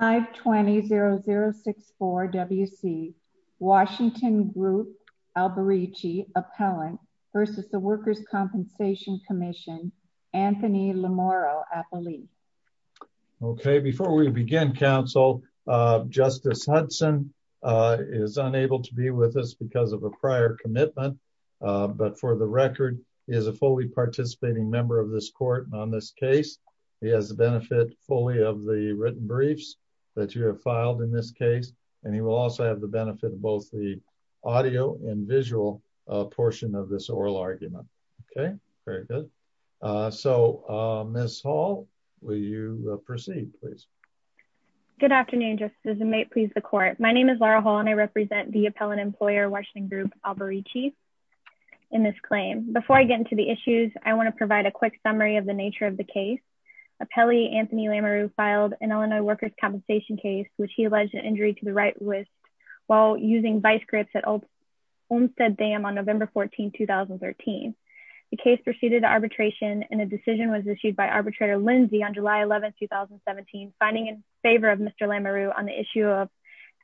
520-0064-WC Washington Group-Alberici Appellant versus the Workers' Compensation Commission Anthony Lamoro-Apolli. Okay before we begin counsel, Justice Hudson is unable to be with us because of a prior commitment but for the record he is a fully participating member of the Court on this case. He has the benefit fully of the written briefs that you have filed in this case and he will also have the benefit of both the audio and visual portion of this oral argument. Okay very good. So Ms. Hall will you proceed please? Good afternoon Justice Hudson. May it please the Court. My name is Laura Hall and I represent the Appellant Employer Washington Group Alberici in this claim. Before I get into the issues I want to provide a quick summary of the nature of the case. Appellee Anthony Lamoro filed an Illinois Workers' Compensation case which he alleged an injury to the right wrist while using vice grips at Olmstead Dam on November 14, 2013. The case proceeded to arbitration and a decision was issued by arbitrator Lindsay on July 11, 2017 finding in favor of Mr. Lamoro on the issue of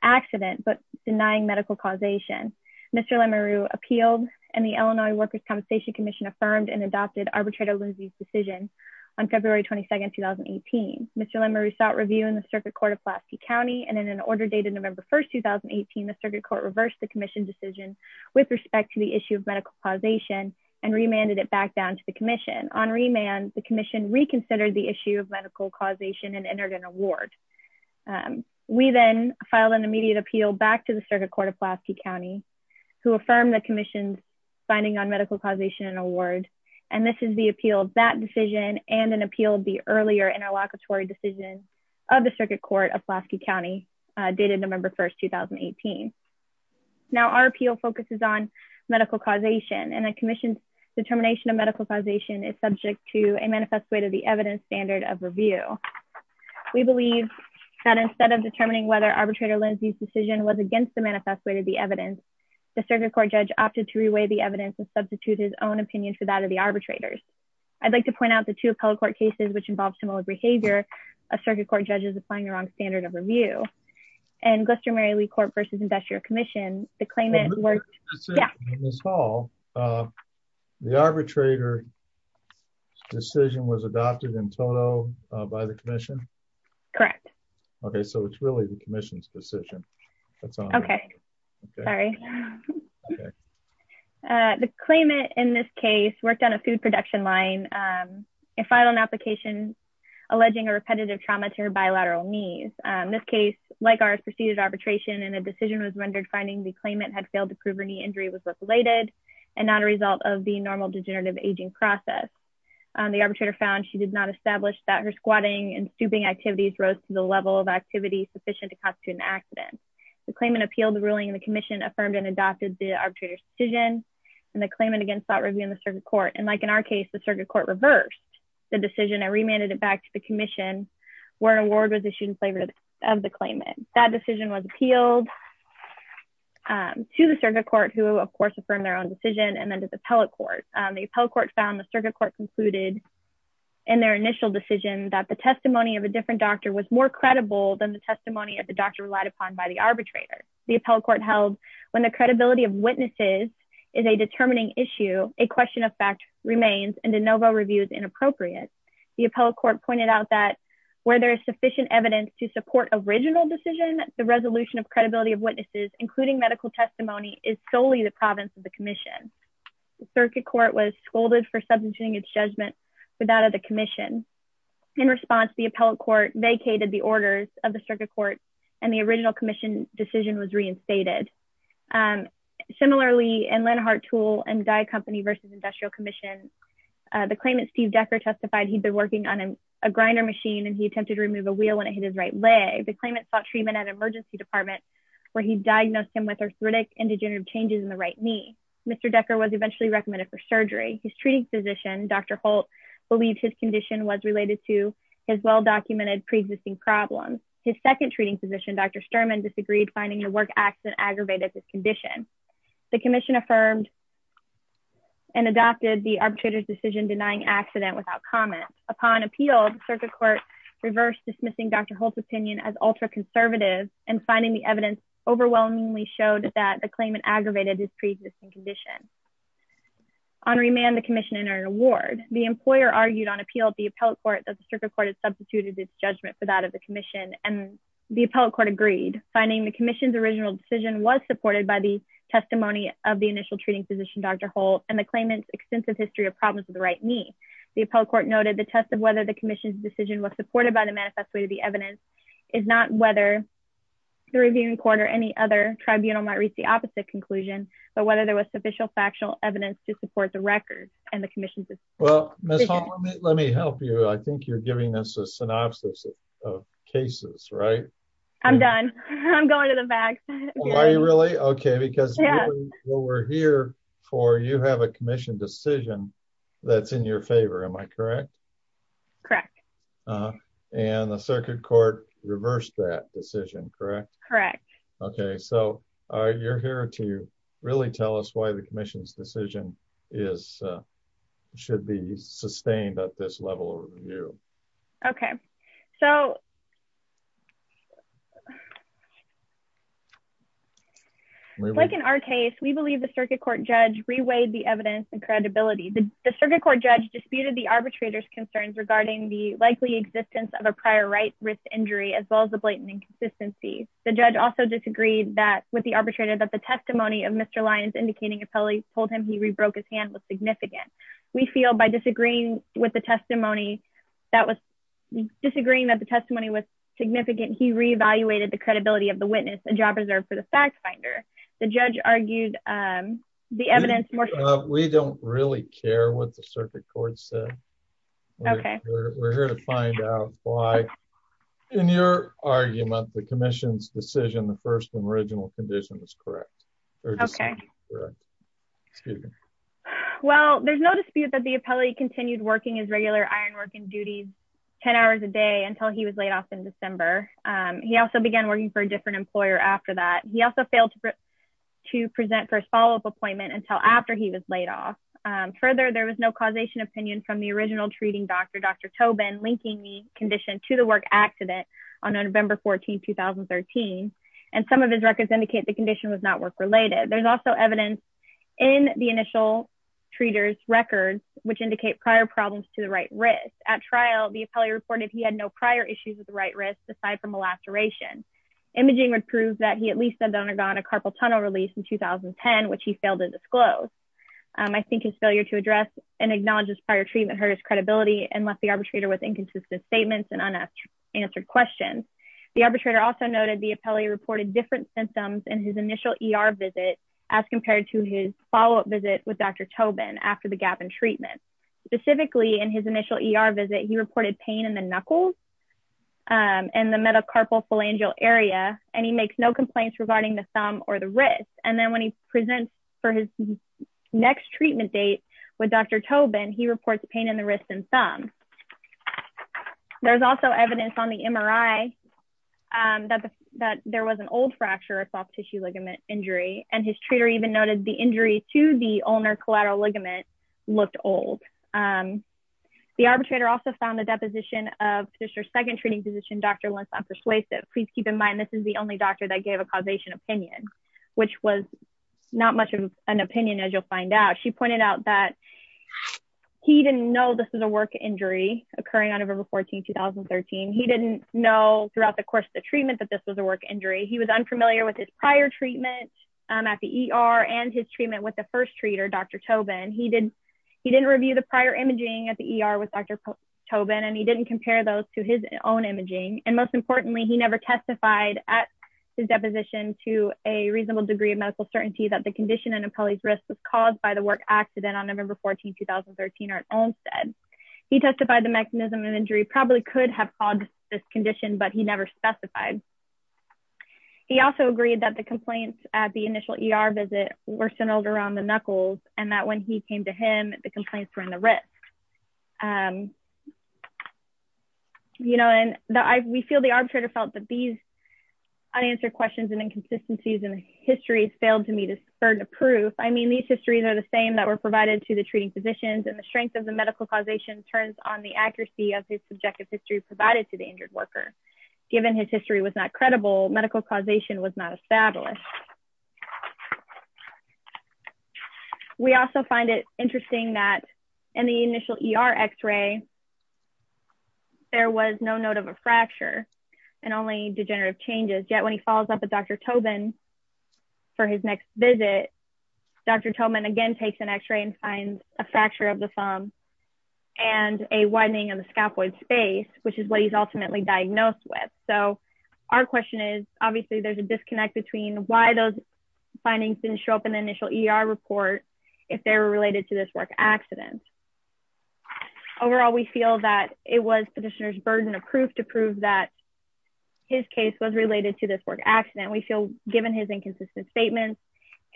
accident but denying medical causation. Mr. Lamoro appealed and the Illinois Workers' Compensation Commission affirmed and adopted arbitrator Lindsay's decision on February 22, 2018. Mr. Lamoro sought review in the circuit court of Pulaski County and in an order dated November 1, 2018 the circuit court reversed the commission decision with respect to the issue of medical causation and remanded it back down to the commission. On remand the commission reconsidered the issue of medical causation and entered an award. We then filed an immediate appeal back to the circuit court of Pulaski County who affirmed the commission's finding on medical causation and award and this is the appeal of that decision and an appeal of the earlier interlocutory decision of the circuit court of Pulaski County dated November 1, 2018. Now our appeal focuses on medical causation and the commission's determination of medical causation is subject to a manifest way to the evidence standard of review. We believe that instead of determining whether arbitrator Lindsay's decision was against the evidence, the circuit court judge opted to re-weigh the evidence and substitute his own opinion for that of the arbitrators. I'd like to point out the two appellate court cases which involve similar behavior of circuit court judges applying the wrong standard of review and Gloucester-Mary Lee Court versus Industrial Commission the claimant worked. The arbitrator's decision was adopted in total by the commission? Correct. Okay so it's really the commission's decision. Okay sorry. The claimant in this case worked on a food production line and filed an application alleging a repetitive trauma to her bilateral knees. This case like ours preceded arbitration and a decision was rendered finding the claimant had failed to prove her knee injury was related and not a result of the normal degenerative aging process. The arbitrator found she did not establish that her squatting and stooping rose to the level of activity sufficient to constitute an accident. The claimant appealed the ruling and the commission affirmed and adopted the arbitrator's decision and the claimant again sought review in the circuit court and like in our case the circuit court reversed the decision and remanded it back to the commission where an award was issued in favor of the claimant. That decision was appealed to the circuit court who of course affirmed their own decision and then to the appellate court. The appellate court found the circuit court concluded in their initial decision that the testimony of a different doctor was more credible than the testimony of the doctor relied upon by the arbitrator. The appellate court held when the credibility of witnesses is a determining issue a question of fact remains and de novo review is inappropriate. The appellate court pointed out that where there is sufficient evidence to support original decision the resolution of credibility of witnesses including medical testimony is solely the province of the commission. The circuit court was scolded for substituting its judgment for that of the commission. In response the appellate court vacated the orders of the circuit court and the original commission decision was reinstated. Similarly in Lenhart Tool and Dye Company versus Industrial Commission the claimant Steve Decker testified he'd been working on a grinder machine and he attempted to remove a wheel when it hit his right leg. The claimant sought treatment at emergency department where he diagnosed him with arthritic and degenerative changes in the right knee. Mr. Decker was eventually recommended for surgery. His treating physician Dr. Holt believed his condition was related to his well-documented pre-existing problems. His second treating physician Dr. Sturman disagreed finding the work accident aggravated this condition. The commission affirmed and adopted the arbitrator's decision denying accident without comment. Upon appeal the circuit court reversed dismissing Dr. Holt's opinion as ultra conservative and finding the evidence overwhelmingly showed that the claimant aggravated his pre-existing condition. On remand the commission entered a ward. The employer argued on appeal at the appellate court that the circuit court had substituted its judgment for that of the commission and the appellate court agreed finding the commission's original decision was supported by the testimony of the initial treating physician Dr. Holt and the claimant's extensive history of problems with the right knee. The appellate court noted the test of whether the commission's decision was supported by the manifesto of the evidence is not whether the reviewing court or any other tribunal might reach the opposite conclusion but whether there was sufficient factual evidence to support the record and the commission's decision. Well Ms. Holland let me help you. I think you're giving us a synopsis of cases right? I'm done. I'm going to the back. Are you really? Okay because we're here for you have a commission decision that's in your favor am I correct? Correct. And the circuit court reversed that decision correct? Correct. Okay so you're here to really tell us why the commission's decision is should be sustained at this level of review. Okay so like in our case we believe the circuit court judge reweighed the evidence and credibility. The circuit court judge disputed the arbitrator's concerns regarding the likely existence of a prior right wrist injury as well as the blatant inconsistency. The judge also disagreed that with the arbitrator that the testimony of Mr. Lyons indicating appellate told him he rebroke his hand was significant. We feel by disagreeing with the testimony that was disagreeing that the testimony was significant he re-evaluated the credibility of the witness a job reserved for fact finder. The judge argued the evidence. We don't really care what the circuit court said. Okay we're here to find out why in your argument the commission's decision the first and original condition was correct. Okay well there's no dispute that the appellate continued working his regular iron working duties 10 hours a day until he was laid off in December. He also began working for a different employer after that. He also failed to present for his follow-up appointment until after he was laid off. Further there was no causation opinion from the original treating doctor Dr. Tobin linking the condition to the work accident on November 14, 2013 and some of his records indicate the condition was not work related. There's also evidence in the initial treaters records which indicate prior problems to the right wrist. At trial the appellate reported he had no prior issues with the right wrist aside from a laceration. Imaging would prove that he at least had undergone a carpal tunnel release in 2010 which he failed to disclose. I think his failure to address and acknowledge his prior treatment hurt his credibility and left the arbitrator with inconsistent statements and unanswered questions. The arbitrator also noted the appellee reported different symptoms in his initial ER visit as compared to his follow-up visit with Dr. Tobin after the gap in treatment. Specifically in his initial ER visit he reported pain in the knuckles and the metacarpal phalangeal area and he makes no complaints regarding the thumb or the wrist and then when he presents for his next treatment date with Dr. Tobin he reports pain in the wrist and thumb. There's also evidence on the MRI that there was an old fracture a soft tissue ligament injury and his treater even noted the injury to the ulnar collateral ligament looked old. The arbitrator also found the deposition of his second treating physician Dr. Lenson persuasive. Please keep in mind this is the only doctor that gave a causation opinion which was not much of an opinion as you'll find out. She pointed out that he didn't know this was a work injury occurring on November 14, 2013. He didn't know throughout the course of the treatment that this was a work injury. He was unfamiliar with his prior treatment at the ER and his treatment with the first treater Dr. Tobin. He didn't review the prior imaging at the ER with Dr. Tobin and he didn't compare those to his own imaging and most importantly he never testified at his deposition to a reasonable degree of medical certainty that the condition and Apolli's risk was caused by the work accident on November 14, 2013 at Olmstead. He testified the mechanism of injury probably could have caused this condition but he never specified. He also agreed that the complaints at the initial ER visit were centered around the knuckles and that when he came to him the complaints were in the wrist. You know and we feel the arbitrator felt that these unanswered questions and inconsistencies in history failed to meet a certain proof. I mean these histories are the same that were provided to the treating physicians and the strength of the medical causation turns on the accuracy of his subjective history provided to the injured worker given his history was not credible medical causation was not established. We also find it interesting that in the initial ER x-ray there was no note of a fracture and only degenerative changes yet when he follows up with Dr. Tobin for his next visit Dr. Tobin again takes an x-ray and finds a fracture of the thumb and a widening of the scapula space which is what he's ultimately diagnosed with. So our question is obviously there's a disconnect between why those findings didn't show up in the initial ER report if they were related to this work accident. Overall we feel that it was petitioner's burden of proof to prove that his case was related to this work accident. We feel given his inconsistent statements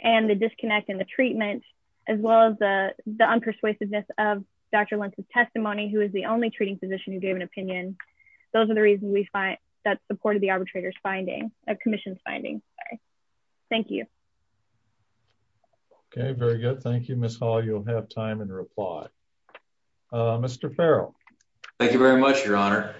and the disconnect in the treatment as well as the the unpersuasiveness of Dr. Lentz's testimony who is the only treating physician who gave an opinion those are the reasons we find that supported the arbitrator's finding a commission's finding. Thank you. Okay very good thank you Ms. Hall you'll have time in reply. Mr. Farrell. Thank you very much your honor.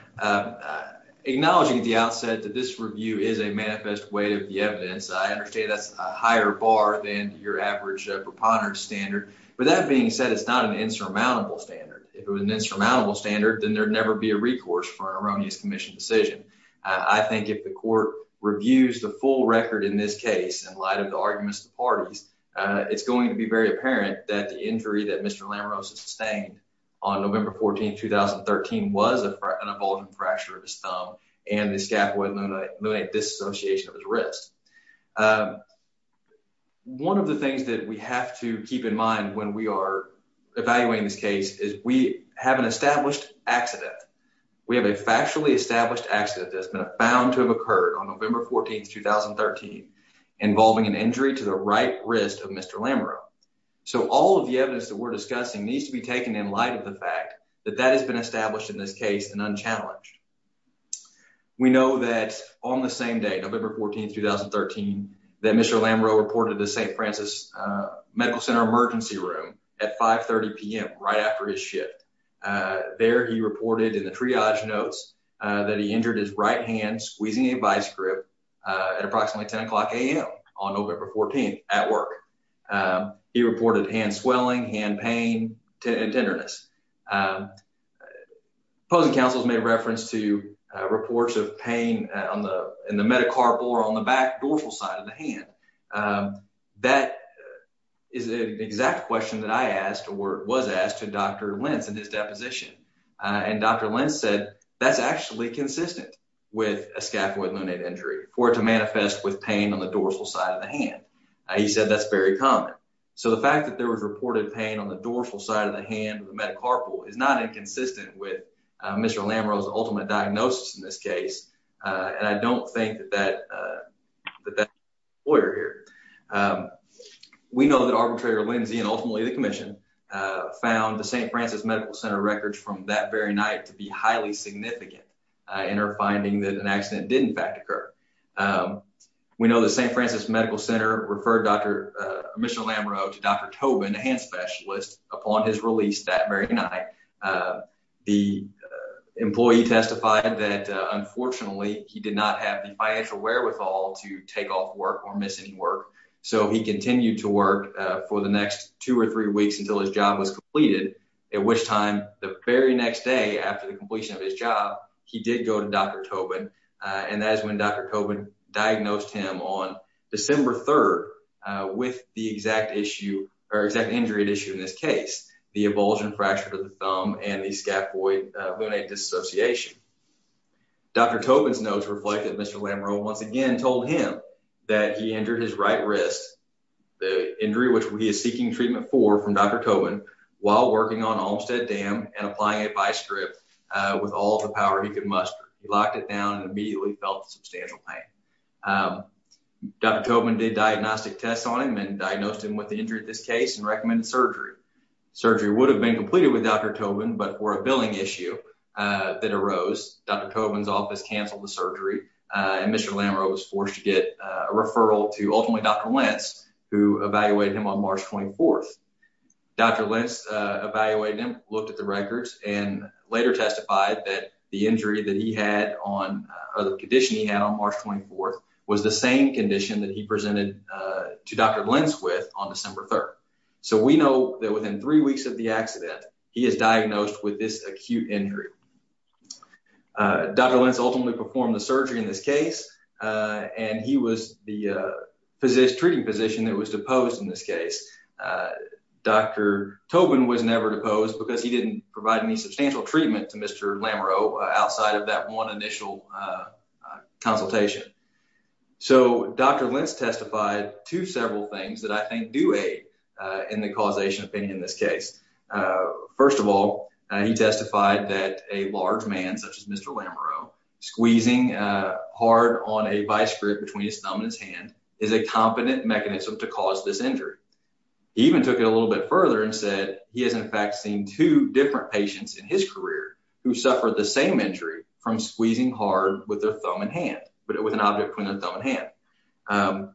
Acknowledging at the outset that this review is a manifest way of the evidence I understand that's a higher bar than your average preponderance standard but that being said it's not an insurmountable standard. If it was an insurmountable standard then there'd never be a recourse for an erroneous commission decision. I think if the court reviews the full record in this case in light of the arguments of the parties it's going to be very apparent that the injury that Mr. Lamarosa sustained on November 14, 2013 was an abulgent fracture of his thumb and the scapula lunate disassociation of his wrist. One of the things that we have to keep in mind when we are evaluating this case is we have an established accident. We have a factually established accident that's been found to have occurred on November 14, 2013 involving an injury to the right wrist of Mr. Lamarosa. So all of the evidence that we're discussing needs to be taken in light of the fact that that has been established in this case and unchallenged. We know that on the same day, November 14, 2013, that Mr. Lamarosa reported to St. Francis Medical Center emergency room at 5 30 p.m. right after his shift. There he reported in the triage notes that he injured his right hand squeezing a vice grip at approximately 10 o'clock a.m. on November 14 at work. He reported hand uh opposing counsels made reference to reports of pain on the in the metacarpal or on the back dorsal side of the hand. That is an exact question that I asked or was asked to Dr. Lentz in his deposition and Dr. Lentz said that's actually consistent with a scapula lunate injury for it to manifest with pain on the dorsal side of the hand. He said that's very common. So the inconsistent with Mr. Lamarosa ultimate diagnosis in this case and I don't think that that lawyer here. We know that arbitrator Lindsay and ultimately the commission found the St. Francis Medical Center records from that very night to be highly significant in her finding that an accident did in fact occur. We know the St. Francis Medical Center referred Dr. Lamarosa to Dr. Tobin, a hand specialist, upon his release that very night. The employee testified that unfortunately he did not have the financial wherewithal to take off work or miss any work. So he continued to work for the next two or three weeks until his job was completed at which time the very next day after the completion of his job he did go to Dr. Tobin and that is when Dr. Tobin diagnosed him on December 3rd with the exact issue or exact injury at issue in this case. The abulsion fracture to the thumb and the scapula lunate disassociation. Dr. Tobin's notes reflect that Mr. Lamarosa once again told him that he injured his right wrist. The injury which he is seeking treatment for from Dr. Tobin while working on Olmstead Dam and applying a vice grip with all the power he could muster. He locked it down and immediately felt substantial pain. Dr. Tobin did diagnostic tests on him and diagnosed him with the injury in this case and recommended surgery. Surgery would have been completed with Dr. Tobin but for a billing issue that arose Dr. Tobin's office canceled the surgery and Mr. Lamarosa was forced to get a referral to ultimately Dr. Lentz who evaluated him on March 24th. Dr. Lentz evaluated him, looked at the records and later testified that the injury that he had on or the condition he had on March 24th was the same condition that he presented to Dr. Lentz with on December 3rd. So we know that within three weeks of the accident he is diagnosed with this acute injury. Dr. Lentz ultimately performed the surgery in this case and he was the Tobin was never deposed because he didn't provide any substantial treatment to Mr. Lamarosa outside of that one initial consultation. So Dr. Lentz testified to several things that I think do aid in the causation opinion in this case. First of all he testified that a large man such as Mr. Lamarosa squeezing hard on a vice grip between his thumb and his hand is a competent mechanism to cause this injury. He even took it a little bit further and said he has in fact seen two different patients in his career who suffered the same injury from squeezing hard with their thumb and hand but with an object between the thumb and hand.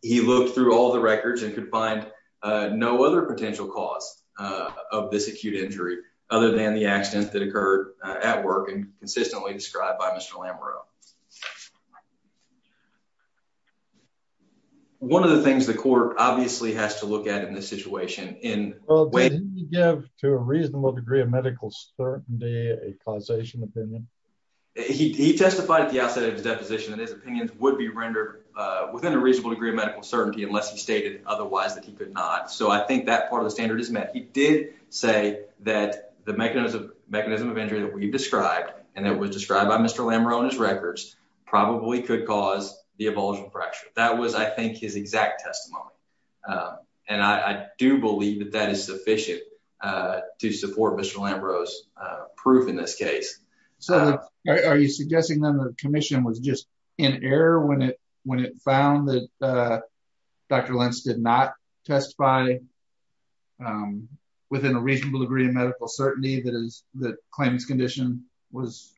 He looked through all the records and could find no other potential cause of this acute injury other than the accident that occurred at work and consistently described by Mr. Lamarosa. One of the things the court obviously has to look at in this situation in well did he give to a reasonable degree of medical certainty a causation opinion? He testified at the outset of his deposition that his opinions would be rendered within a reasonable degree of medical certainty unless he stated otherwise that he could not. So I think that part of the standard is met. He did say that the mechanism of injury that we described and that was described by Mr. Lamarosa on his records probably could cause the abolishment fracture. That was I think his exact testimony and I do believe that that is sufficient to support Mr. Lamarosa's proof in this case. So are you suggesting then the commission was just in error when it when it found that Dr. Lentz did not testify within a reasonable degree of medical certainty that is the claimant's condition was?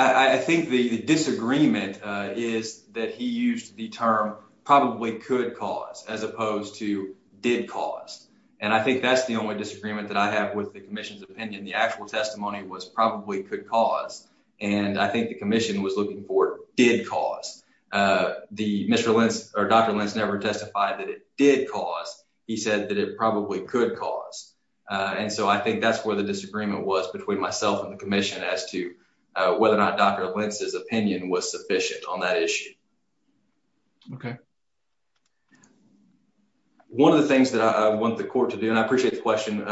I think the disagreement is that he used the term probably could cause as opposed to did cause and I think that's the only disagreement that I have with the commission's opinion. The actual testimony was probably could cause and I think the commission was looking for did cause. Dr. Lentz never testified that it did cause. He said that it probably could cause and so I think that's where the disagreement was between myself and the commission as to whether or not Dr. Lentz's opinion was sufficient on that issue. Okay. One of the things that I want the court to do and I appreciate the question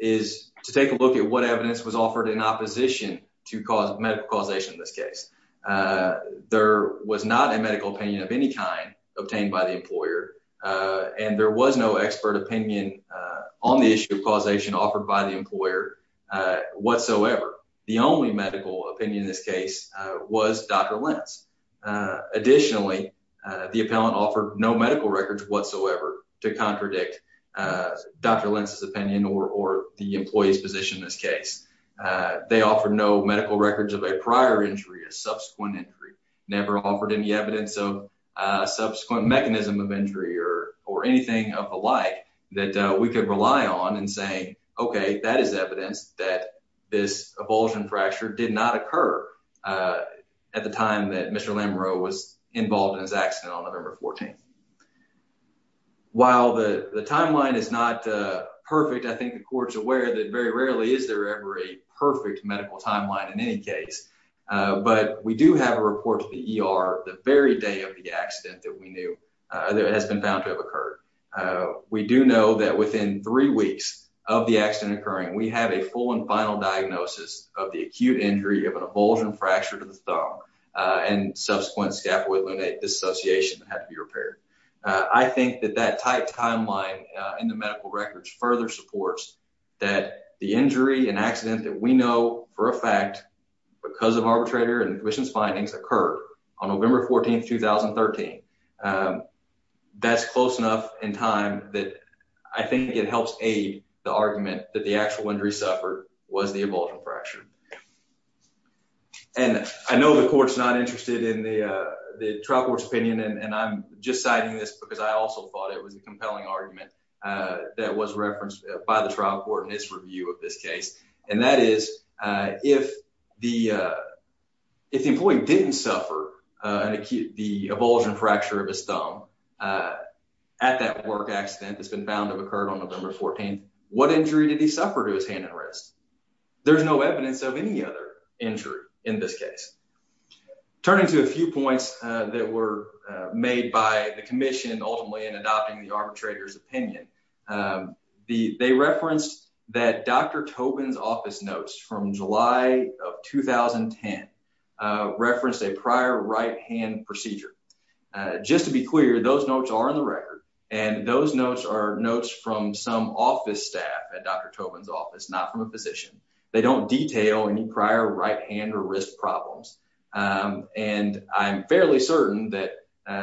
is to take a look at what evidence was offered in opposition to medical causation in this case. There was not a medical opinion of any kind obtained by the employer and there was no expert opinion on the issue of causation offered by the employer whatsoever. The only medical opinion in this case was Dr. Lentz. Additionally, the appellant offered no medical records whatsoever to contradict Dr. Lentz's opinion or the employee's position in this case. They offered no medical records of a prior injury, a subsequent injury, never offered any evidence of a subsequent mechanism of injury or anything of the like that we could rely on and say okay that is evidence that this avulsion fracture did not occur at the time that Mr. Lamoureux was involved in his 14th. While the timeline is not perfect, I think the court's aware that very rarely is there ever a perfect medical timeline in any case, but we do have a report to the ER the very day of the accident that we knew that has been found to have occurred. We do know that within three weeks of the accident occurring, we have a full and final diagnosis of the acute injury of an avulsion fracture to the thumb and subsequent scapulae lunate disassociation that had to be repaired. I think that that tight timeline in the medical records further supports that the injury and accident that we know for a fact because of arbitrator and admissions findings occurred on November 14, 2013. That's close enough in time that I think it helps aid the argument that the actual injury suffered was the avulsion fracture and I know the court's not interested in the trial court's opinion and I'm just citing this because I also thought it was a compelling argument that was referenced by the trial court in its review of this case and that is if the if the employee didn't suffer an acute the avulsion fracture of his thumb at that work has been found to have occurred on November 14th, what injury did he suffer to his hand and wrist? There's no evidence of any other injury in this case. Turning to a few points that were made by the commission ultimately in adopting the arbitrator's opinion, they referenced that Dr. Tobin's office notes from July of 2010 referenced a prior right hand procedure. Just to be clear, those notes are in the record and those notes are notes from some office staff at Dr. Tobin's office, not from a physician. They don't detail any prior right hand or wrist problems and I'm fairly certain that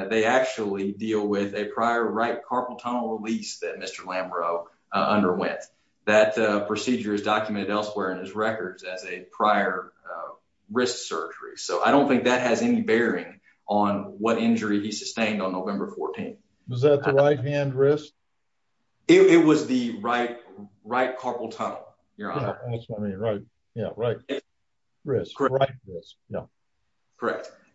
they actually deal with a prior right carpal tunnel release that Mr. Lambrow underwent. That procedure is documented elsewhere in his records as a prior wrist surgery, so I don't think that has any bearing on what injury he sustained on November 14th. Was that the right hand wrist? It was the right carpal tunnel, your honor. That's what I mean, right, yeah, right wrist. Correct.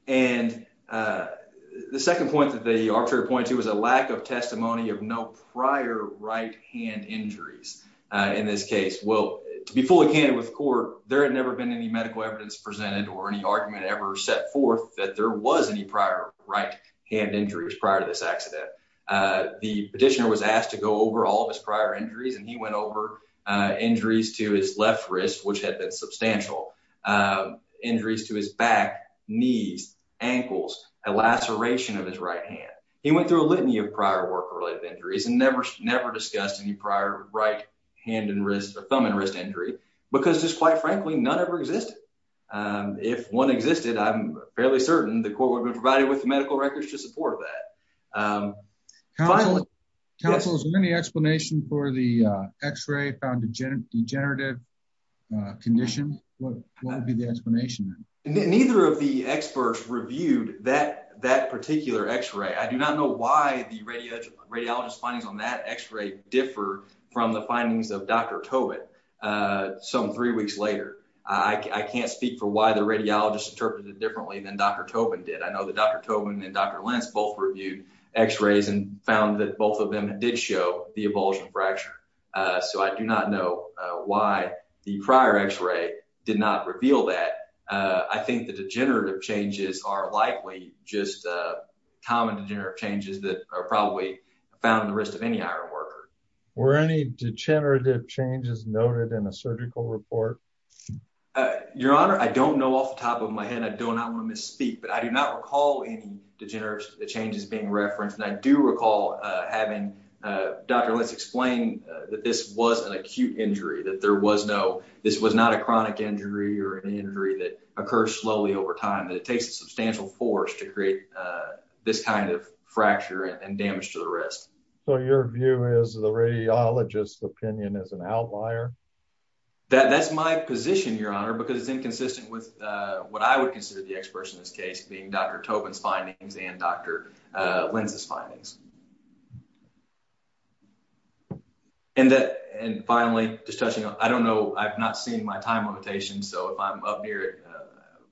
And the second point that the arbitrator pointed to was a lack of testimony of no prior right hand injuries in this case. Well, to be fully candid with court, there had never been any medical evidence presented or any argument ever set forth that there was any prior right hand injuries prior to this accident. The petitioner was asked to go over all of his prior injuries and he went over injuries to his left wrist, which had been substantial, injuries to his back, knees, ankles, a laceration of his right hand. He went through a litany of prior work related injuries and never never discussed any prior right hand and wrist or thumb and wrist injury because just quite frankly none ever existed. If one existed, I'm fairly certain the court would have provided with the medical records to support that. Counsel, is there any explanation for the x-ray found degenerative condition? What would be the explanation? Neither of the experts reviewed that particular x-ray. I do not know why the radiologist's findings on that x-ray differ from the findings of Dr. Tobin some three weeks later. I can't speak for why the radiologist interpreted it differently than Dr. Tobin did. I know that Dr. Tobin and Dr. Lentz both reviewed x-rays and found that both of them did show the avulsion fracture, so I do not know why the prior x-ray did not reveal that. I think the degenerative changes are likely just common degenerative changes that are probably found in the wrist of any iron worker. Were any degenerative changes noted in a surgical report? Your Honor, I don't know off the top of my head and I do not want to misspeak, but I do not recall any degenerative changes being referenced and I do not recall a chronic injury or an injury that occurs slowly over time. It takes a substantial force to create this kind of fracture and damage to the wrist. So your view is the radiologist's opinion is an outlier? That's my position, Your Honor, because it's inconsistent with what I would consider the experts in this case being Dr. Tobin's findings and Dr. Lentz's findings. And finally, just touching on, I don't know, I've not seen my time limitation, so if I'm up near it,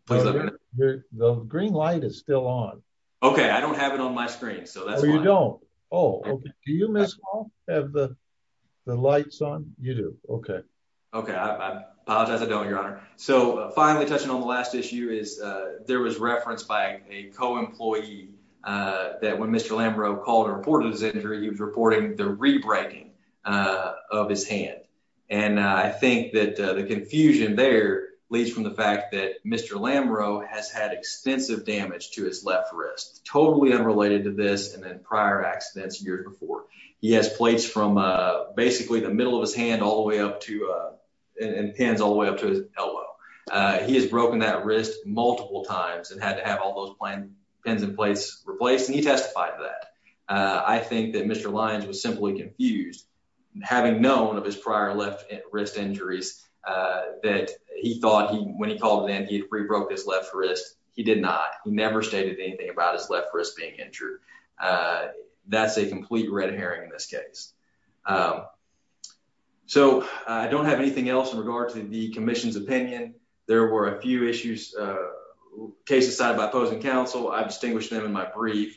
please let me know. The green light is still on. Okay, I don't have it on my screen, so that's why. Oh, you don't? Oh, do you, Ms. Hall, have the lights on? You do, okay. Okay, I apologize, I don't, Your Honor. So finally, touching on the last issue is there was reference by a co-employee that when Mr. Lambrow called and reported his injury, he was reporting the re-breaking of his hand. And I think that the confusion there leads from the fact that Mr. Lambrow has had extensive damage to his left wrist, totally unrelated to this and prior accidents years before. He has plates from basically the middle of his hand all the way up to, and pins all the way up to his elbow. He has broken that wrist multiple times and had to have all those pins replaced, and he testified to that. I think that Mr. Lyons was simply confused, having known of his prior left wrist injuries, that he thought when he called in he had re-broke his left wrist. He did not. He never stated anything about his left wrist being injured. That's a complete red herring in this case. So I don't have anything else in regard to the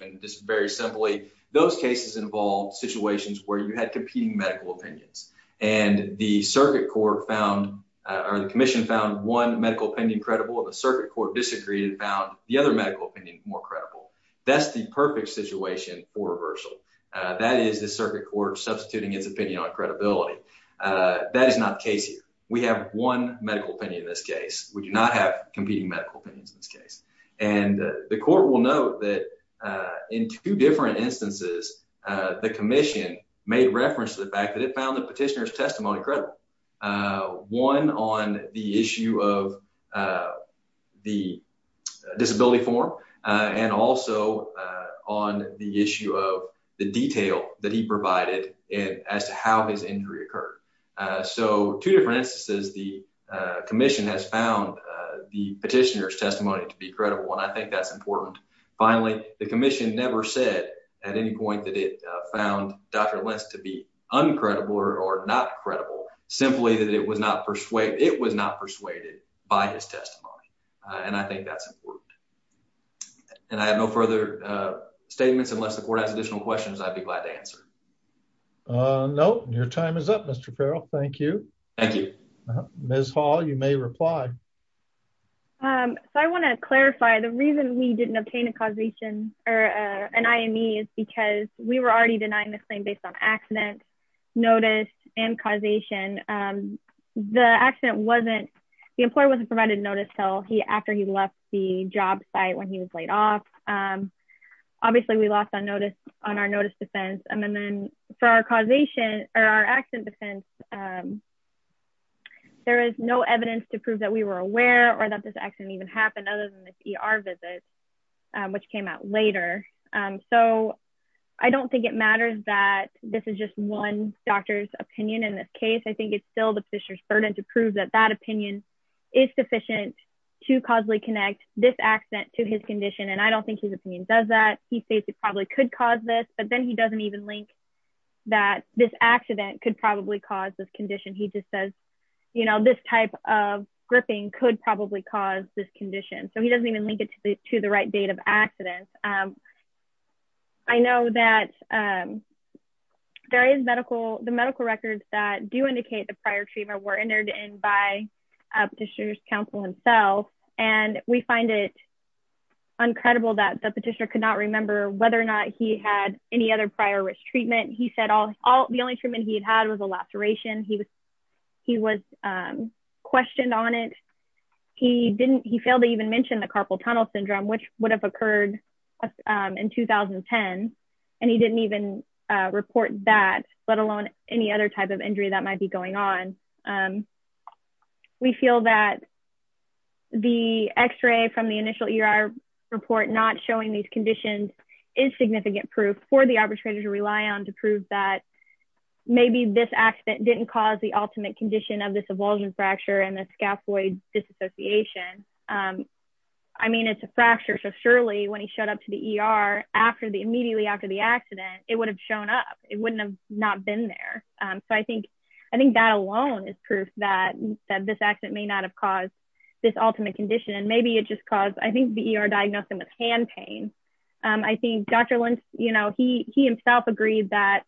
and just very simply, those cases involved situations where you had competing medical opinions. And the circuit court found, or the commission found one medical opinion credible, and the circuit court disagreed and found the other medical opinion more credible. That's the perfect situation for reversal. That is the circuit court substituting its opinion on credibility. That is not the case here. We have one medical opinion in this case. We do not have in two different instances, the commission made reference to the fact that it found the petitioner's testimony credible. One on the issue of the disability form, and also on the issue of the detail that he provided as to how his injury occurred. So two different instances, the commission has found the petitioner's testimony to be credible, and I think that's important. Finally, the commission never said at any point that it found Dr. Lentz to be uncredible or not credible, simply that it was not persuaded by his testimony. And I think that's important. And I have no further statements unless the court has additional questions, I'd be glad to answer. No, your time is up, Mr. Farrell. Thank you. Thank you. Ms. Hall, you may reply. Um, so I want to clarify the reason we didn't obtain a causation or an IME is because we were already denying the claim based on accident, notice and causation. The accident wasn't, the employer wasn't provided notice till he after he left the job site when he was laid off. Obviously, we lost on notice on our notice defense. And then then for our causation, or our accident defense, there is no evidence to prove that we were aware or that this accident even happened other than this ER visit, which came out later. So I don't think it matters that this is just one doctor's opinion. In this case, I think it's still the petitioner's burden to prove that that opinion is sufficient to causally connect this accident to his condition. And I don't think his opinion does that he states it probably could cause this, but then he doesn't even link that this accident could probably cause this condition. He just says, you know, this type of gripping could probably cause this condition. So he doesn't even link it to the to the right date of accident. I know that there is medical the medical records that do indicate the prior treatment were entered in by a petitioner's counsel himself. And we find it uncredible that petitioner could not remember whether or not he had any other prior risk treatment. He said all the only treatment he had was a laceration he was he was questioned on it. He didn't he failed to even mention the carpal tunnel syndrome, which would have occurred in 2010. And he didn't even report that, let alone any other type of injury that might be going on. And we feel that the x ray from the initial ER report not showing these conditions is significant proof for the arbitrator to rely on to prove that maybe this accident didn't cause the ultimate condition of this avulsion fracture and the scaphoid disassociation. I mean, it's a fracture. So surely when he showed up to the ER after the immediately after the accident, it would have shown up, it wouldn't have not been there. So I think, I think that alone is proof that that this accident may not have caused this ultimate condition. And maybe it just caused I think the ER diagnosed him with hand pain. I think Dr. Lynch, you know, he he himself agreed that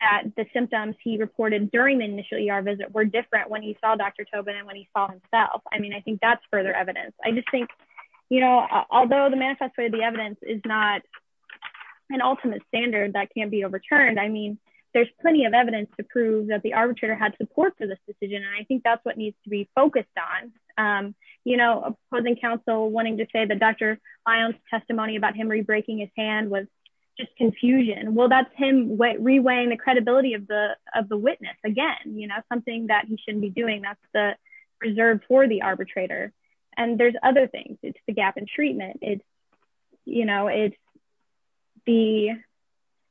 at the symptoms he reported during the initial ER visit were different when he saw Dr. Tobin and when he saw himself. I mean, I think that's further evidence. I just think, you know, I mean, there's plenty of evidence to prove that the arbitrator had support for this decision. And I think that's what needs to be focused on. You know, opposing counsel wanting to say that Dr. Lyons testimony about him re breaking his hand was just confusion. Well, that's him reweighing the credibility of the of the witness again, you know, something that he shouldn't be doing. That's the reserve for the arbitrator. And there's other things. It's the gap in treatment. It's, you know, it's the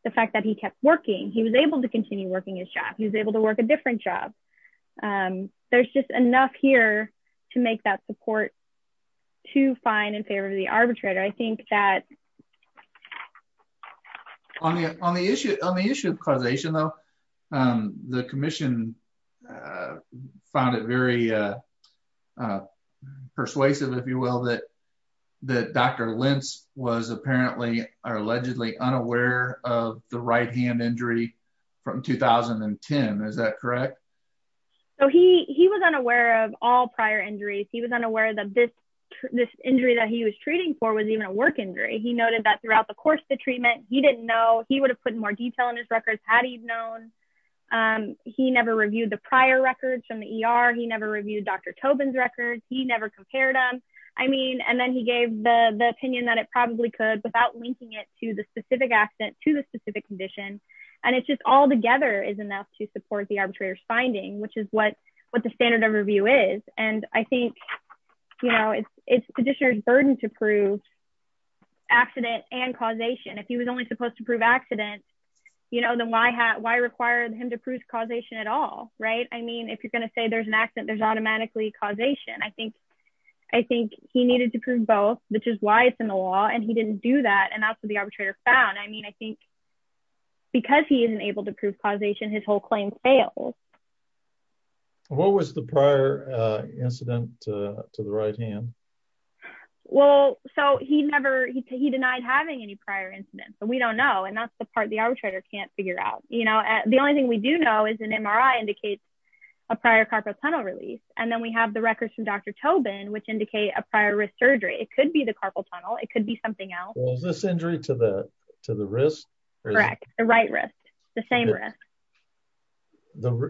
the fact that he kept working, he was able to continue working his job, he was able to work a different job. There's just enough here to make that support to find in favor of the arbitrator. I think that on the on the issue on the issue of causation, though, the commission found it very persuasive, if you will, that that Dr. Lentz was apparently are allegedly unaware of the right hand injury from 2010. Is that correct? So he he was unaware of all prior injuries. He was unaware that this, this injury that he was treating for was even a work injury. He noted that throughout the course of the treatment, he didn't know he would have put more detail in his records had he known. He never reviewed the prior records from the ER. He never reviewed Dr. Tobin's records. He never compared them. I mean, and then he gave the opinion that it probably could without linking it to the specific accident to the specific condition. And it's just all together is enough to support the arbitrator's finding, which is what what the standard of review is. And I think, you know, it's it's petitioners burden to prove accident and causation. If he was only supposed to prove accident, you know, then why had why required him to prove causation at all? Right. I mean, if you're going to say there's an accident, there's automatically causation. I think I think he needed to prove both, which is why it's in the law. And he didn't do that. And that's what the arbitrator found. I mean, I think because he isn't able to prove causation, his whole claim fails. What was the prior incident to the right hand? Well, so he never he denied having any prior incidents, but we don't know. And that's the part the arbitrator can't figure out. You know, the only thing we do know is an MRI indicates a prior carpal tunnel release. And then we have the records from Dr. Tobin, which indicate a prior surgery. It could be the carpal tunnel. It could be something else. This injury to the to the wrist. Correct. The right wrist, the same.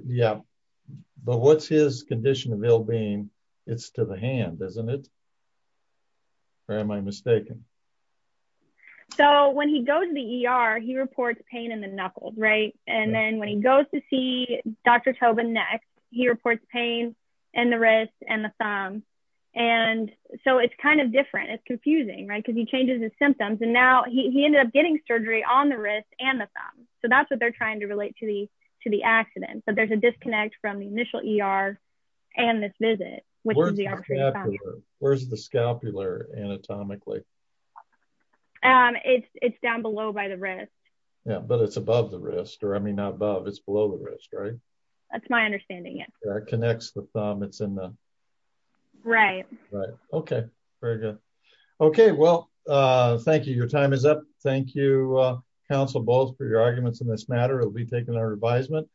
Yeah. But what's his condition of ill being? It's to the hand, isn't it? Or am I mistaken? So when he goes to the ER, he reports pain in the knuckles. Right. And then when he goes to see Dr. Tobin next, he reports pain in the wrist and the thumb. And so it's kind of different. It's confusing, right? Because he changes his symptoms. And now he ended up getting surgery on the wrist and the thumb. So that's what they're trying to relate to the to the accident. But there's a disconnect from the initial ER and this visit. Where's the scapular anatomically? It's it's down below by the wrist. Yeah, but it's above the wrist or I mean, above it's below the wrist, right? That's my understanding. It connects the thumb. It's in the right. Right. Okay. Very well. Thank you both for your arguments in this matter. We'll be taking our advisement.